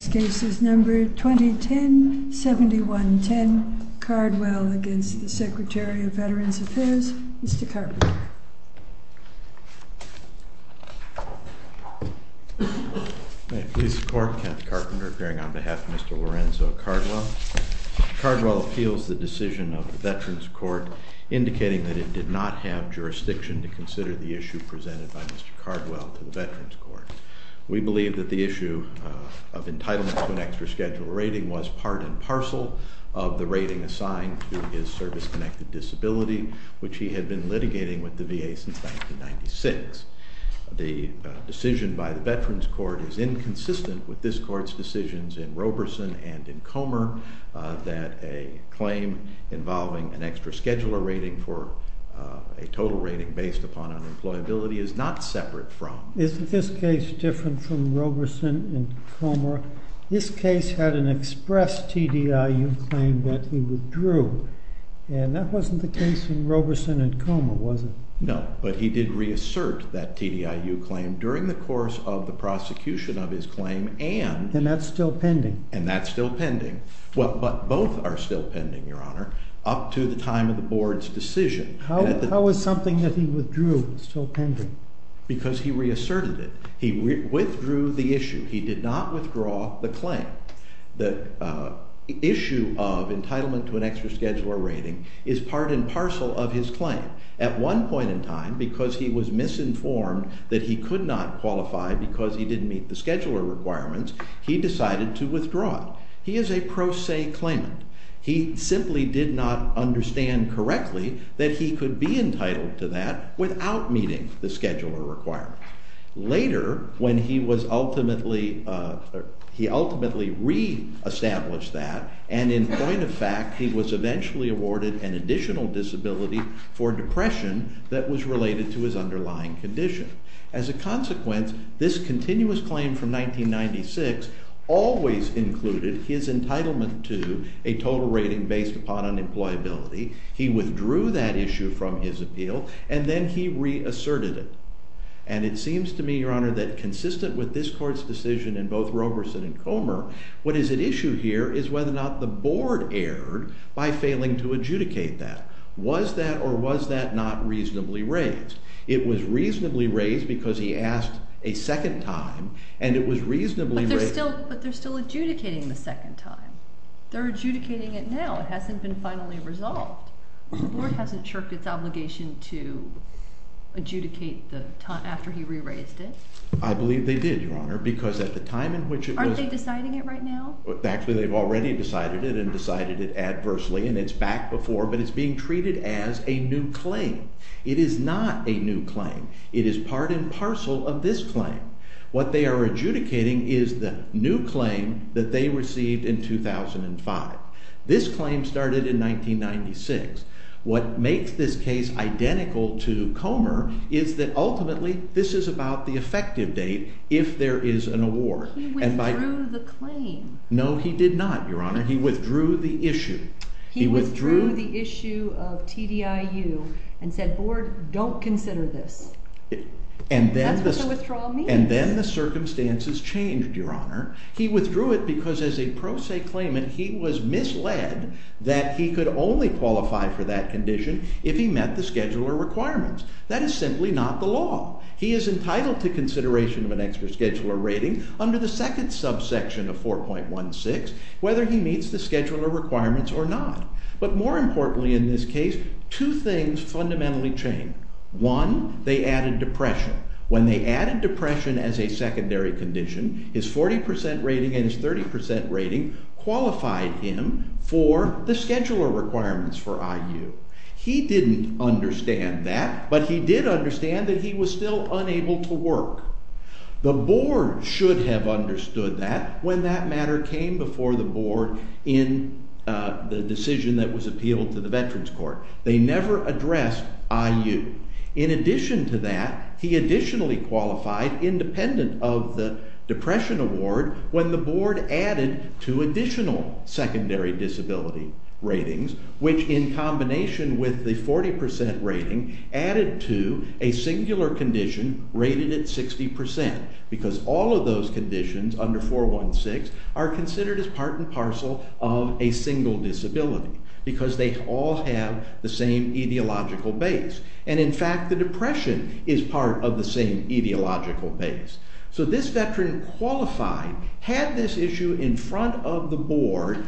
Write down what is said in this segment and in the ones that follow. This case is number 2010-7110, Cardwell v. Secretary of Veterans Affairs, Mr. Carpenter. May it please the Court, Kent Carpenter appearing on behalf of Mr. Lorenzo Cardwell. Mr. Cardwell appeals the decision of the Veterans Court indicating that it did not have jurisdiction to consider the issue presented by Mr. Cardwell to the Veterans Court. We believe that the issue of entitlement to an extra scheduler rating was part and parcel of the rating assigned to his service-connected disability, which he had been litigating with the VA since 1996. The decision by the Veterans Court is inconsistent with this Court's decisions in Roberson and in Comer that a claim involving an extra scheduler rating for a total rating based upon unemployability is not separate from. Is this case different from Roberson and Comer? This case had an express TDIU claim that he withdrew, and that wasn't the case in Roberson and Comer, was it? No, but he did reassert that TDIU claim during the course of the prosecution of his claim and... And that's still pending? And that's still pending. But both are still pending, Your Honor, up to the time of the Board's decision. How is something that he withdrew still pending? Because he reasserted it. He withdrew the issue. He did not withdraw the claim. The issue of entitlement to an extra scheduler rating is part and parcel of his claim. At one point in time, because he was misinformed that he could not qualify because he didn't meet the scheduler requirements, he decided to withdraw it. He is a pro se claimant. He simply did not understand correctly that he could be entitled to that without meeting the scheduler requirements. Later, when he was ultimately... He ultimately reestablished that, and in point of fact, he was eventually awarded an additional disability for depression that was related to his underlying condition. As a consequence, this continuous claim from 1996 always included his entitlement to a total rating based upon unemployability. He withdrew that issue from his appeal, and then he reasserted it. And it seems to me, Your Honor, that consistent with this Court's decision in both Roberson and Comer, what is at issue here is whether or not the Board erred by failing to adjudicate that. Was that or was that not reasonably raised? It was reasonably raised because he asked a second time, and it was reasonably raised... But they're still adjudicating the second time. They're adjudicating it now. It hasn't been finally resolved. The Board hasn't shirked its obligation to adjudicate after he re-raised it. I believe they did, Your Honor, because at the time in which it was... Aren't they deciding it right now? Actually, they've already decided it and decided it adversely, and it's back before, but it's being treated as a new claim. It is not a new claim. It is part and parcel of this claim. What they are adjudicating is the new claim that they received in 2005. This claim started in 1996. What makes this case identical to Comer is that ultimately this is about the effective date if there is an award. He withdrew the claim. No, he did not, Your Honor. He withdrew the issue. He withdrew the issue of TDIU and said, Board, don't consider this. That's what the withdrawal means. And then the circumstances changed, Your Honor. He withdrew it because as a pro se claimant, he was misled that he could only qualify for that condition if he met the scheduler requirements. That is simply not the law. He is entitled to consideration of an extra scheduler rating under the second subsection of 4.16 whether he meets the scheduler requirements or not. But more importantly in this case, two things fundamentally changed. One, they added depression. When they added depression as a secondary condition, his 40% rating and his 30% rating qualified him for the scheduler requirements for IU. He didn't understand that, but he did understand that he was still unable to work. The Board should have understood that when that matter came before the Board in the decision that was appealed to the Veterans Court. They never addressed IU. In addition to that, he additionally qualified independent of the depression award when the Board added two additional secondary disability ratings, which in combination with the 40% rating added to a singular condition rated at 60% because all of those conditions under 4.16 are considered as part and parcel of a single disability because they all have the same etiological base. And in fact, the depression is part of the same etiological base. So this veteran qualified, had this issue in front of the Board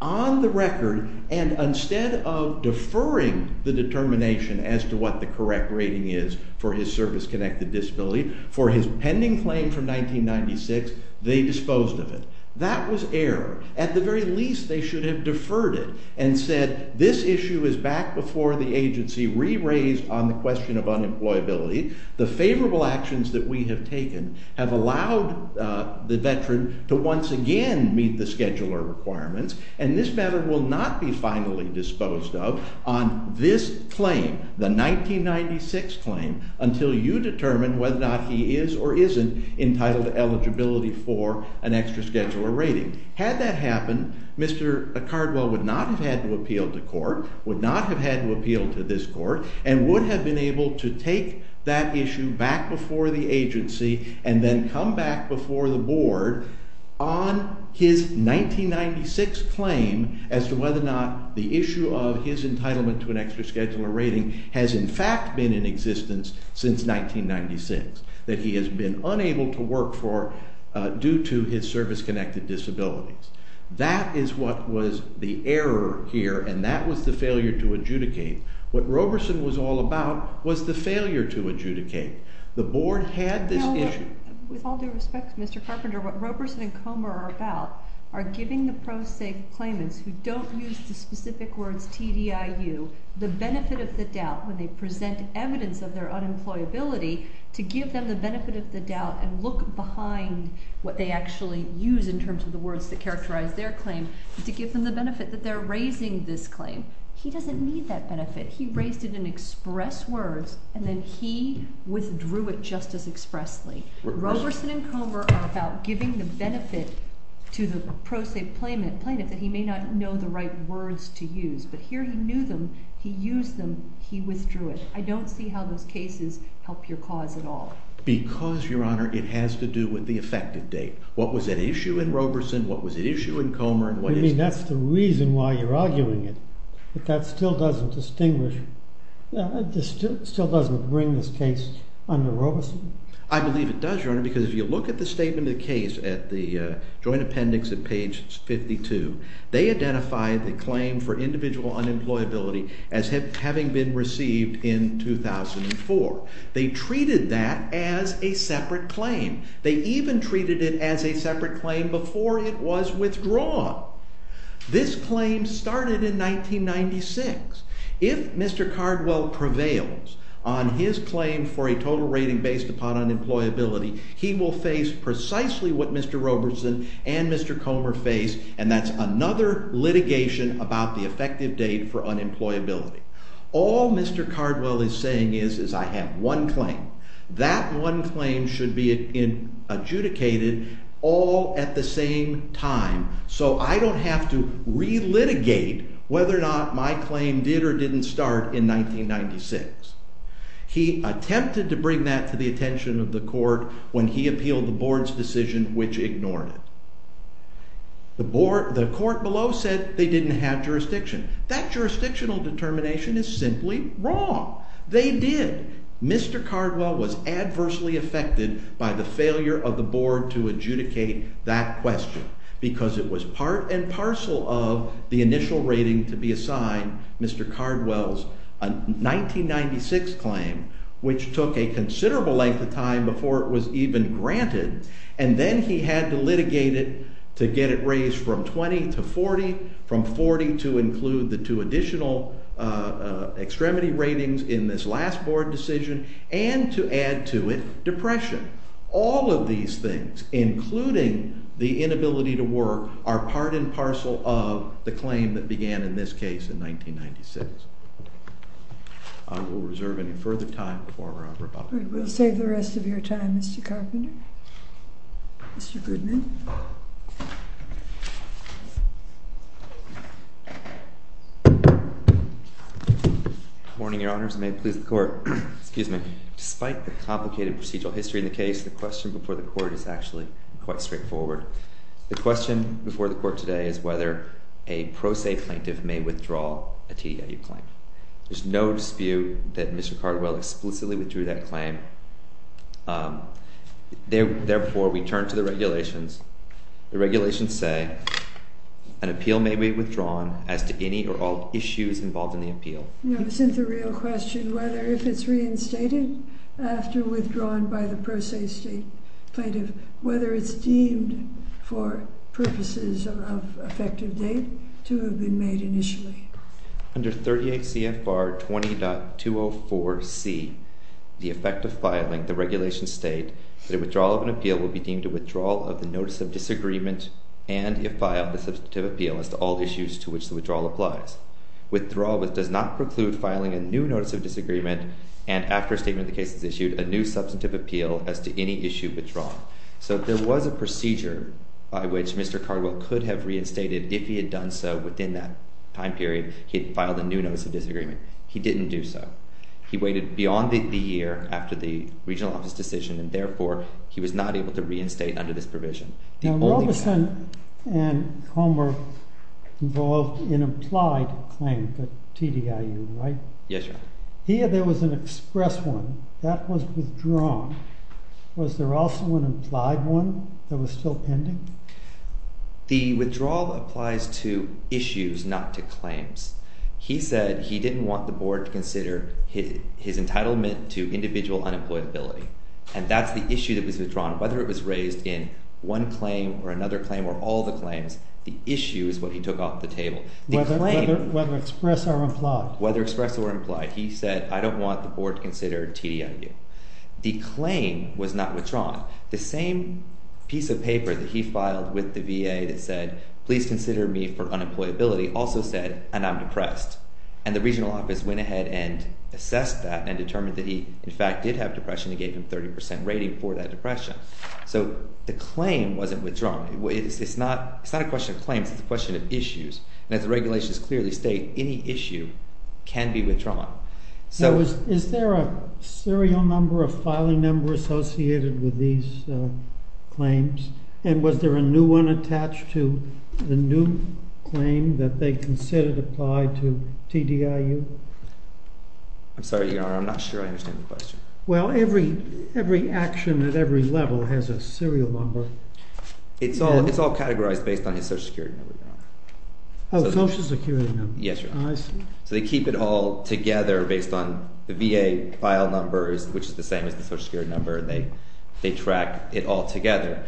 on the record, and instead of deferring the determination as to what the correct rating is for his service-connected disability for his pending claim from 1996, they disposed of it. That was error. At the very least, they should have deferred it and said this issue is back before the agency re-raised on the question of unemployability. The favorable actions that we have taken have allowed the veteran to once again meet the scheduler requirements, and this matter will not be finally disposed of on this claim, the 1996 claim, until you determine whether or not he is or isn't entitled to eligibility for an extra scheduler rating. Had that happened, Mr. Cardwell would not have had to appeal to court, would not have had to appeal to this court, and would have been able to take that issue back before the agency and then come back before the Board on his 1996 claim as to whether or not the issue of his entitlement to an extra scheduler rating has in fact been in existence since 1996, that he has been unable to work for due to his service-connected disabilities. That is what was the error here, and that was the failure to adjudicate. What Roberson was all about was the failure to adjudicate. The Board had this issue. With all due respect, Mr. Carpenter, what Roberson and Comer are about are giving the pro se claimants who don't use the specific words TDIU the benefit of the doubt when they present evidence of their unemployability to give them the benefit of the doubt and look behind what they actually use in terms of the words that characterize their claim to give them the benefit that they're raising this claim. He doesn't need that benefit. He raised it in express words, and then he withdrew it just as expressly. Roberson and Comer are about giving the benefit to the pro se claimant that he may not know the right words to use. But here he knew them. He used them. He withdrew it. I don't see how those cases help your cause at all. Because, Your Honor, it has to do with the effective date. What was at issue in Roberson? What was at issue in Comer? I mean, that's the reason why you're arguing it. But that still doesn't distinguish, still doesn't bring this case under Roberson. I believe it does, Your Honor, because if you look at the statement of the case at the joint appendix at page 52, they identified the claim for individual unemployability as having been received in 2004. They treated that as a separate claim. They even treated it as a separate claim before it was withdrawn. This claim started in 1996. If Mr. Cardwell prevails on his claim for a total rating based upon unemployability, he will face precisely what Mr. Roberson and Mr. Comer face, and that's another litigation about the effective date for unemployability. All Mr. Cardwell is saying is I have one claim. That one claim should be adjudicated all at the same time so I don't have to relitigate whether or not my claim did or didn't start in 1996. He attempted to bring that to the attention of the court when he appealed the board's decision, which ignored it. The court below said they didn't have jurisdiction. That jurisdictional determination is simply wrong. They did. Mr. Cardwell was adversely affected by the failure of the board to adjudicate that question because it was part and parcel of the initial rating to be assigned Mr. Cardwell's 1996 claim, which took a considerable length of time before it was even granted, and then he had to litigate it to get it raised from 20 to 40, from 40 to include the two additional extremity ratings in this last board decision, and to add to it depression. All of these things, including the inability to work, are part and parcel of the claim that began in this case in 1996. I will reserve any further time for our rebuttal. We'll save the rest of your time, Mr. Carpenter. Mr. Goodman. Good morning, Your Honors, and may it please the Court. Despite the complicated procedural history in the case, the question before the Court is actually quite straightforward. The question before the Court today is whether a pro se plaintiff may withdraw a TDIU claim. There's no dispute that Mr. Cardwell explicitly withdrew that claim. Therefore, we turn to the regulations. The regulations say an appeal may be withdrawn as to any or all issues involved in the appeal. No, this isn't the real question. Whether if it's reinstated after withdrawing by the pro se state plaintiff, whether it's deemed for purposes of effective date to have been made initially. Under 38 CFR 20.204C, the effect of filing the regulations state that a withdrawal of an appeal will be deemed a withdrawal of the notice of disagreement and, if filed, a substantive appeal as to all issues to which the withdrawal applies. Withdrawal does not preclude filing a new notice of disagreement and, after a statement of the case is issued, a new substantive appeal as to any issue withdrawn. So there was a procedure by which Mr. Cardwell could have reinstated, if he had done so within that time period, he had filed a new notice of disagreement. He didn't do so. He waited beyond the year after the regional office decision, and, therefore, he was not able to reinstate under this provision. Now, Robeson and Comer were involved in implied claims at TDIU, right? Yes, Your Honor. Here there was an express one. That was withdrawn. Was there also an implied one that was still pending? The withdrawal applies to issues, not to claims. He said he didn't want the board to consider his entitlement to individual unemployability, and that's the issue that was withdrawn. Whether it was raised in one claim or another claim or all the claims, the issue is what he took off the table. Whether express or implied? Whether express or implied. He said, I don't want the board to consider TDIU. The claim was not withdrawn. The same piece of paper that he filed with the VA that said, please consider me for unemployability, also said, and I'm depressed. And the regional office went ahead and assessed that and determined that he, in fact, did have depression. They gave him a 30% rating for that depression. So the claim wasn't withdrawn. It's not a question of claims. It's a question of issues. And as the regulations clearly state, any issue can be withdrawn. Now, is there a serial number, a filing number associated with these claims? And was there a new one attached to the new claim that they considered applied to TDIU? I'm sorry, Your Honor. I'm not sure I understand the question. Well, every action at every level has a serial number. It's all categorized based on his Social Security number, Your Honor. Oh, Social Security number. Yes, Your Honor. I see. So they keep it all together based on the VA file numbers, which is the same as the Social Security number. They track it all together.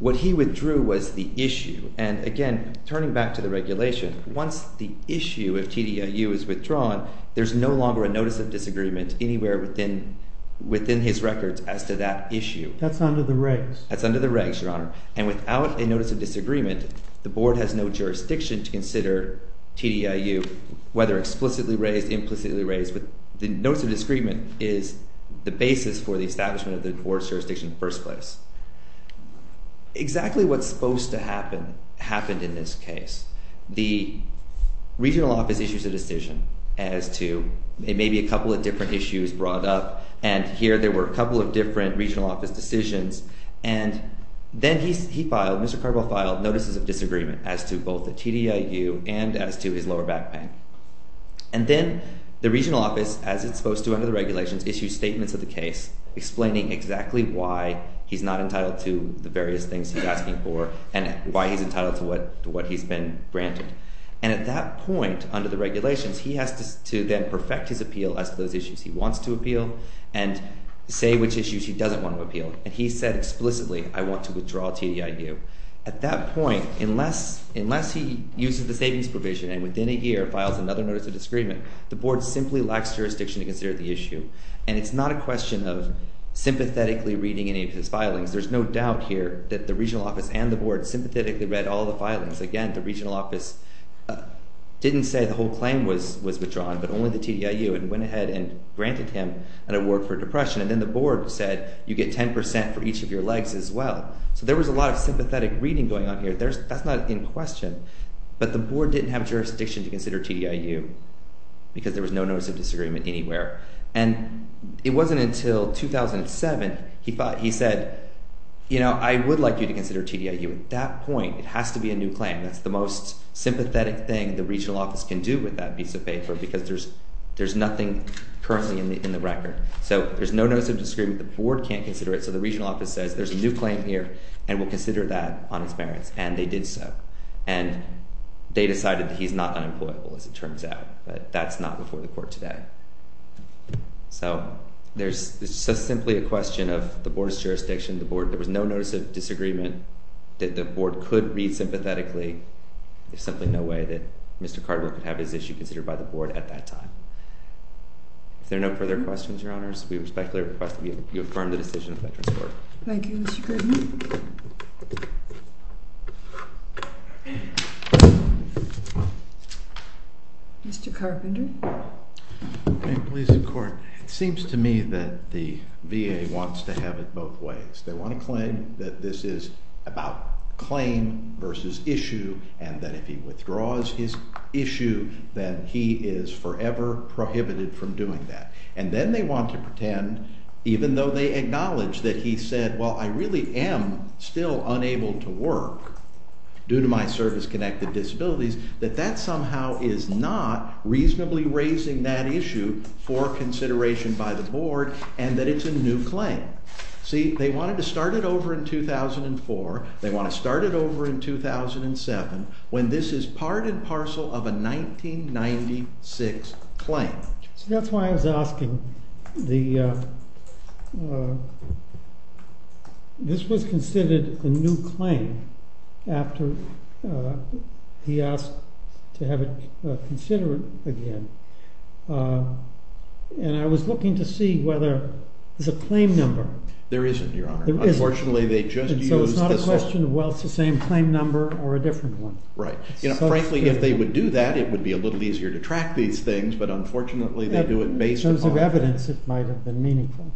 What he withdrew was the issue. And again, turning back to the regulation, once the issue of TDIU is withdrawn, there's no longer a Notice of Disagreement anywhere within his records as to that issue. That's under the regs. That's under the regs, Your Honor. And without a Notice of Disagreement, the Board has no jurisdiction to consider TDIU, whether explicitly raised, implicitly raised. The Notice of Disagreement is the basis for the establishment of the Board's jurisdiction in the first place. Exactly what's supposed to happen happened in this case. The regional office issues a decision as to maybe a couple of different issues brought up. And here there were a couple of different regional office decisions. And then he filed, Mr. Carbo filed Notices of Disagreement as to both the TDIU and as to his lower back pain. And then the regional office, as it's supposed to under the regulations, issues statements of the case explaining exactly why he's not entitled to the various things he's asking for and why he's entitled to what he's been granted. And at that point, under the regulations, he has to then perfect his appeal as to those issues he wants to appeal and say which issues he doesn't want to appeal. And he said explicitly, I want to withdraw TDIU. At that point, unless he uses the savings provision and within a year files another Notice of Disagreement, the Board simply lacks jurisdiction to consider the issue. And it's not a question of sympathetically reading any of his filings. There's no doubt here that the regional office and the Board sympathetically read all the filings. Again, the regional office didn't say the whole claim was withdrawn but only the TDIU and went ahead and granted him an award for depression. And then the Board said you get 10% for each of your legs as well. So there was a lot of sympathetic reading going on here. That's not in question. But the Board didn't have jurisdiction to consider TDIU because there was no Notice of Disagreement anywhere. And it wasn't until 2007 he said, you know, I would like you to consider TDIU. At that point, it has to be a new claim. That's the most sympathetic thing the regional office can do with that piece of paper because there's nothing currently in the record. So there's no Notice of Disagreement. The Board can't consider it, so the regional office says there's a new claim here and will consider that on its merits, and they did so. And they decided he's not unemployable as it turns out, but that's not before the court today. So there's simply a question of the Board's jurisdiction. There was no Notice of Disagreement that the Board could read sympathetically. There's simply no way that Mr. Cardwell could have his issue considered by the Board at that time. If there are no further questions, Your Honors, we respectfully request that you affirm the decision of the Veterans Court. Thank you, Mr. Goodman. Mr. Carpenter. It seems to me that the VA wants to have it both ways. They want to claim that this is about claim versus issue and that if he withdraws his issue then he is forever prohibited from doing that. And then they want to pretend, even though they acknowledge that he said, well, I really am still unable to work due to my service-connected disabilities, that that somehow is not reasonably raising that issue for consideration by the Board and that it's a new claim. See, they wanted to start it over in 2004. They want to start it over in 2007 when this is part and parcel of a 1996 claim. See, that's why I was asking. This was considered a new claim after he asked to have it considered again. And I was looking to see whether there's a claim number. There isn't, Your Honor. There isn't. Unfortunately, they just used this one. So it's not a question of, well, it's the same claim number or a different one. Right. Frankly, if they would do that, it would be a little easier to track these things, but unfortunately they do it based upon- In terms of evidence, it might have been meaningful.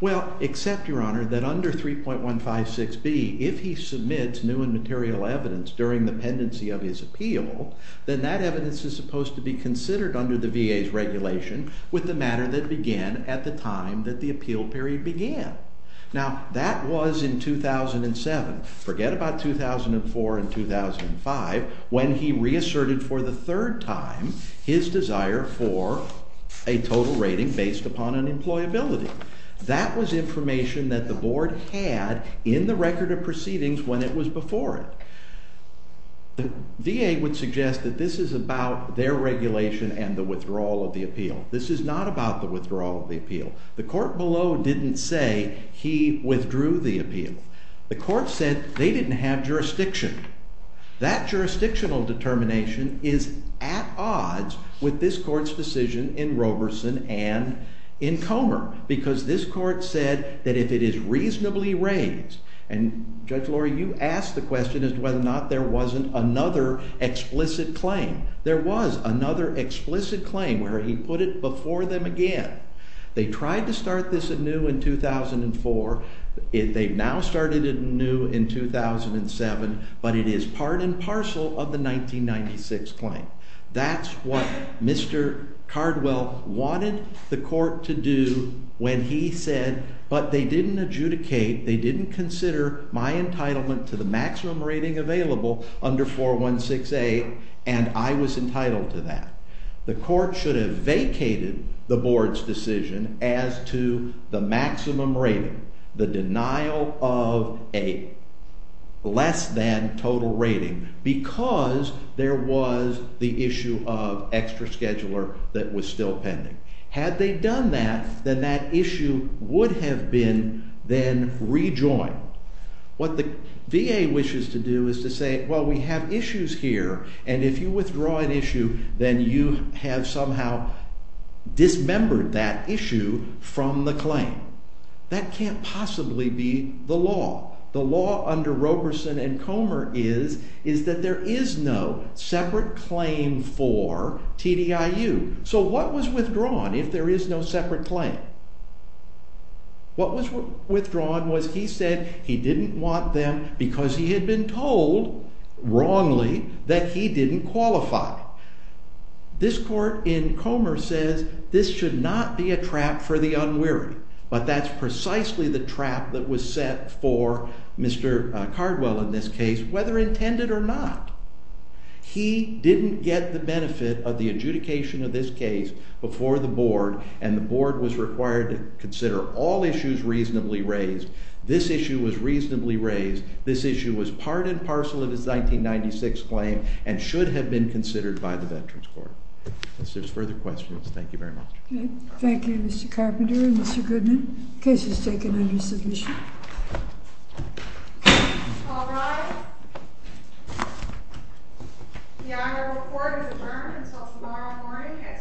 Well, except, Your Honor, that under 3.156B, if he submits new and material evidence during the pendency of his appeal, then that evidence is supposed to be considered under the VA's regulation with the matter that began at the time that the appeal period began. Now, that was in 2007. Forget about 2004 and 2005 when he reasserted for the third time his desire for a total rating based upon unemployability. That was information that the board had in the record of proceedings when it was before it. The VA would suggest that this is about their regulation and the withdrawal of the appeal. This is not about the withdrawal of the appeal. The court below didn't say he withdrew the appeal. The court said they didn't have jurisdiction. That jurisdictional determination is at odds with this court's decision in Roberson and in Comer because this court said that if it is reasonably raised, and Judge Lori, you asked the question as to whether or not there wasn't another explicit claim. There was another explicit claim where he put it before them again. They tried to start this anew in 2004. They've now started it anew in 2007, but it is part and parcel of the 1996 claim. That's what Mr. Cardwell wanted the court to do when he said, but they didn't adjudicate, they didn't consider my entitlement to the maximum rating available under 416A, and I was entitled to that. The court should have vacated the board's decision as to the maximum rating, the denial of a less than total rating, because there was the issue of extra scheduler that was still pending. Had they done that, then that issue would have been then rejoined. What the VA wishes to do is to say, well, we have issues here, and if you withdraw an issue, then you have somehow dismembered that issue from the claim. That can't possibly be the law. The law under Roberson and Comer is that there is no separate claim for TDIU. So what was withdrawn if there is no separate claim? What was withdrawn was he said he didn't want them because he had been told wrongly that he didn't qualify. This court in Comer says this should not be a trap for the unwary, but that's precisely the trap that was set for Mr. Cardwell in this case, whether intended or not. He didn't get the benefit of the adjudication of this case before the board, and the board was required to consider all issues reasonably raised. This issue was reasonably raised. This issue was part and parcel of his 1996 claim and should have been considered by the Veterans Court. If there's further questions, thank you very much. Thank you, Mr. Carpenter and Mr. Goodman. The case is taken under submission. All rise. The honorable court is adjourned until tomorrow morning at 10 a.m.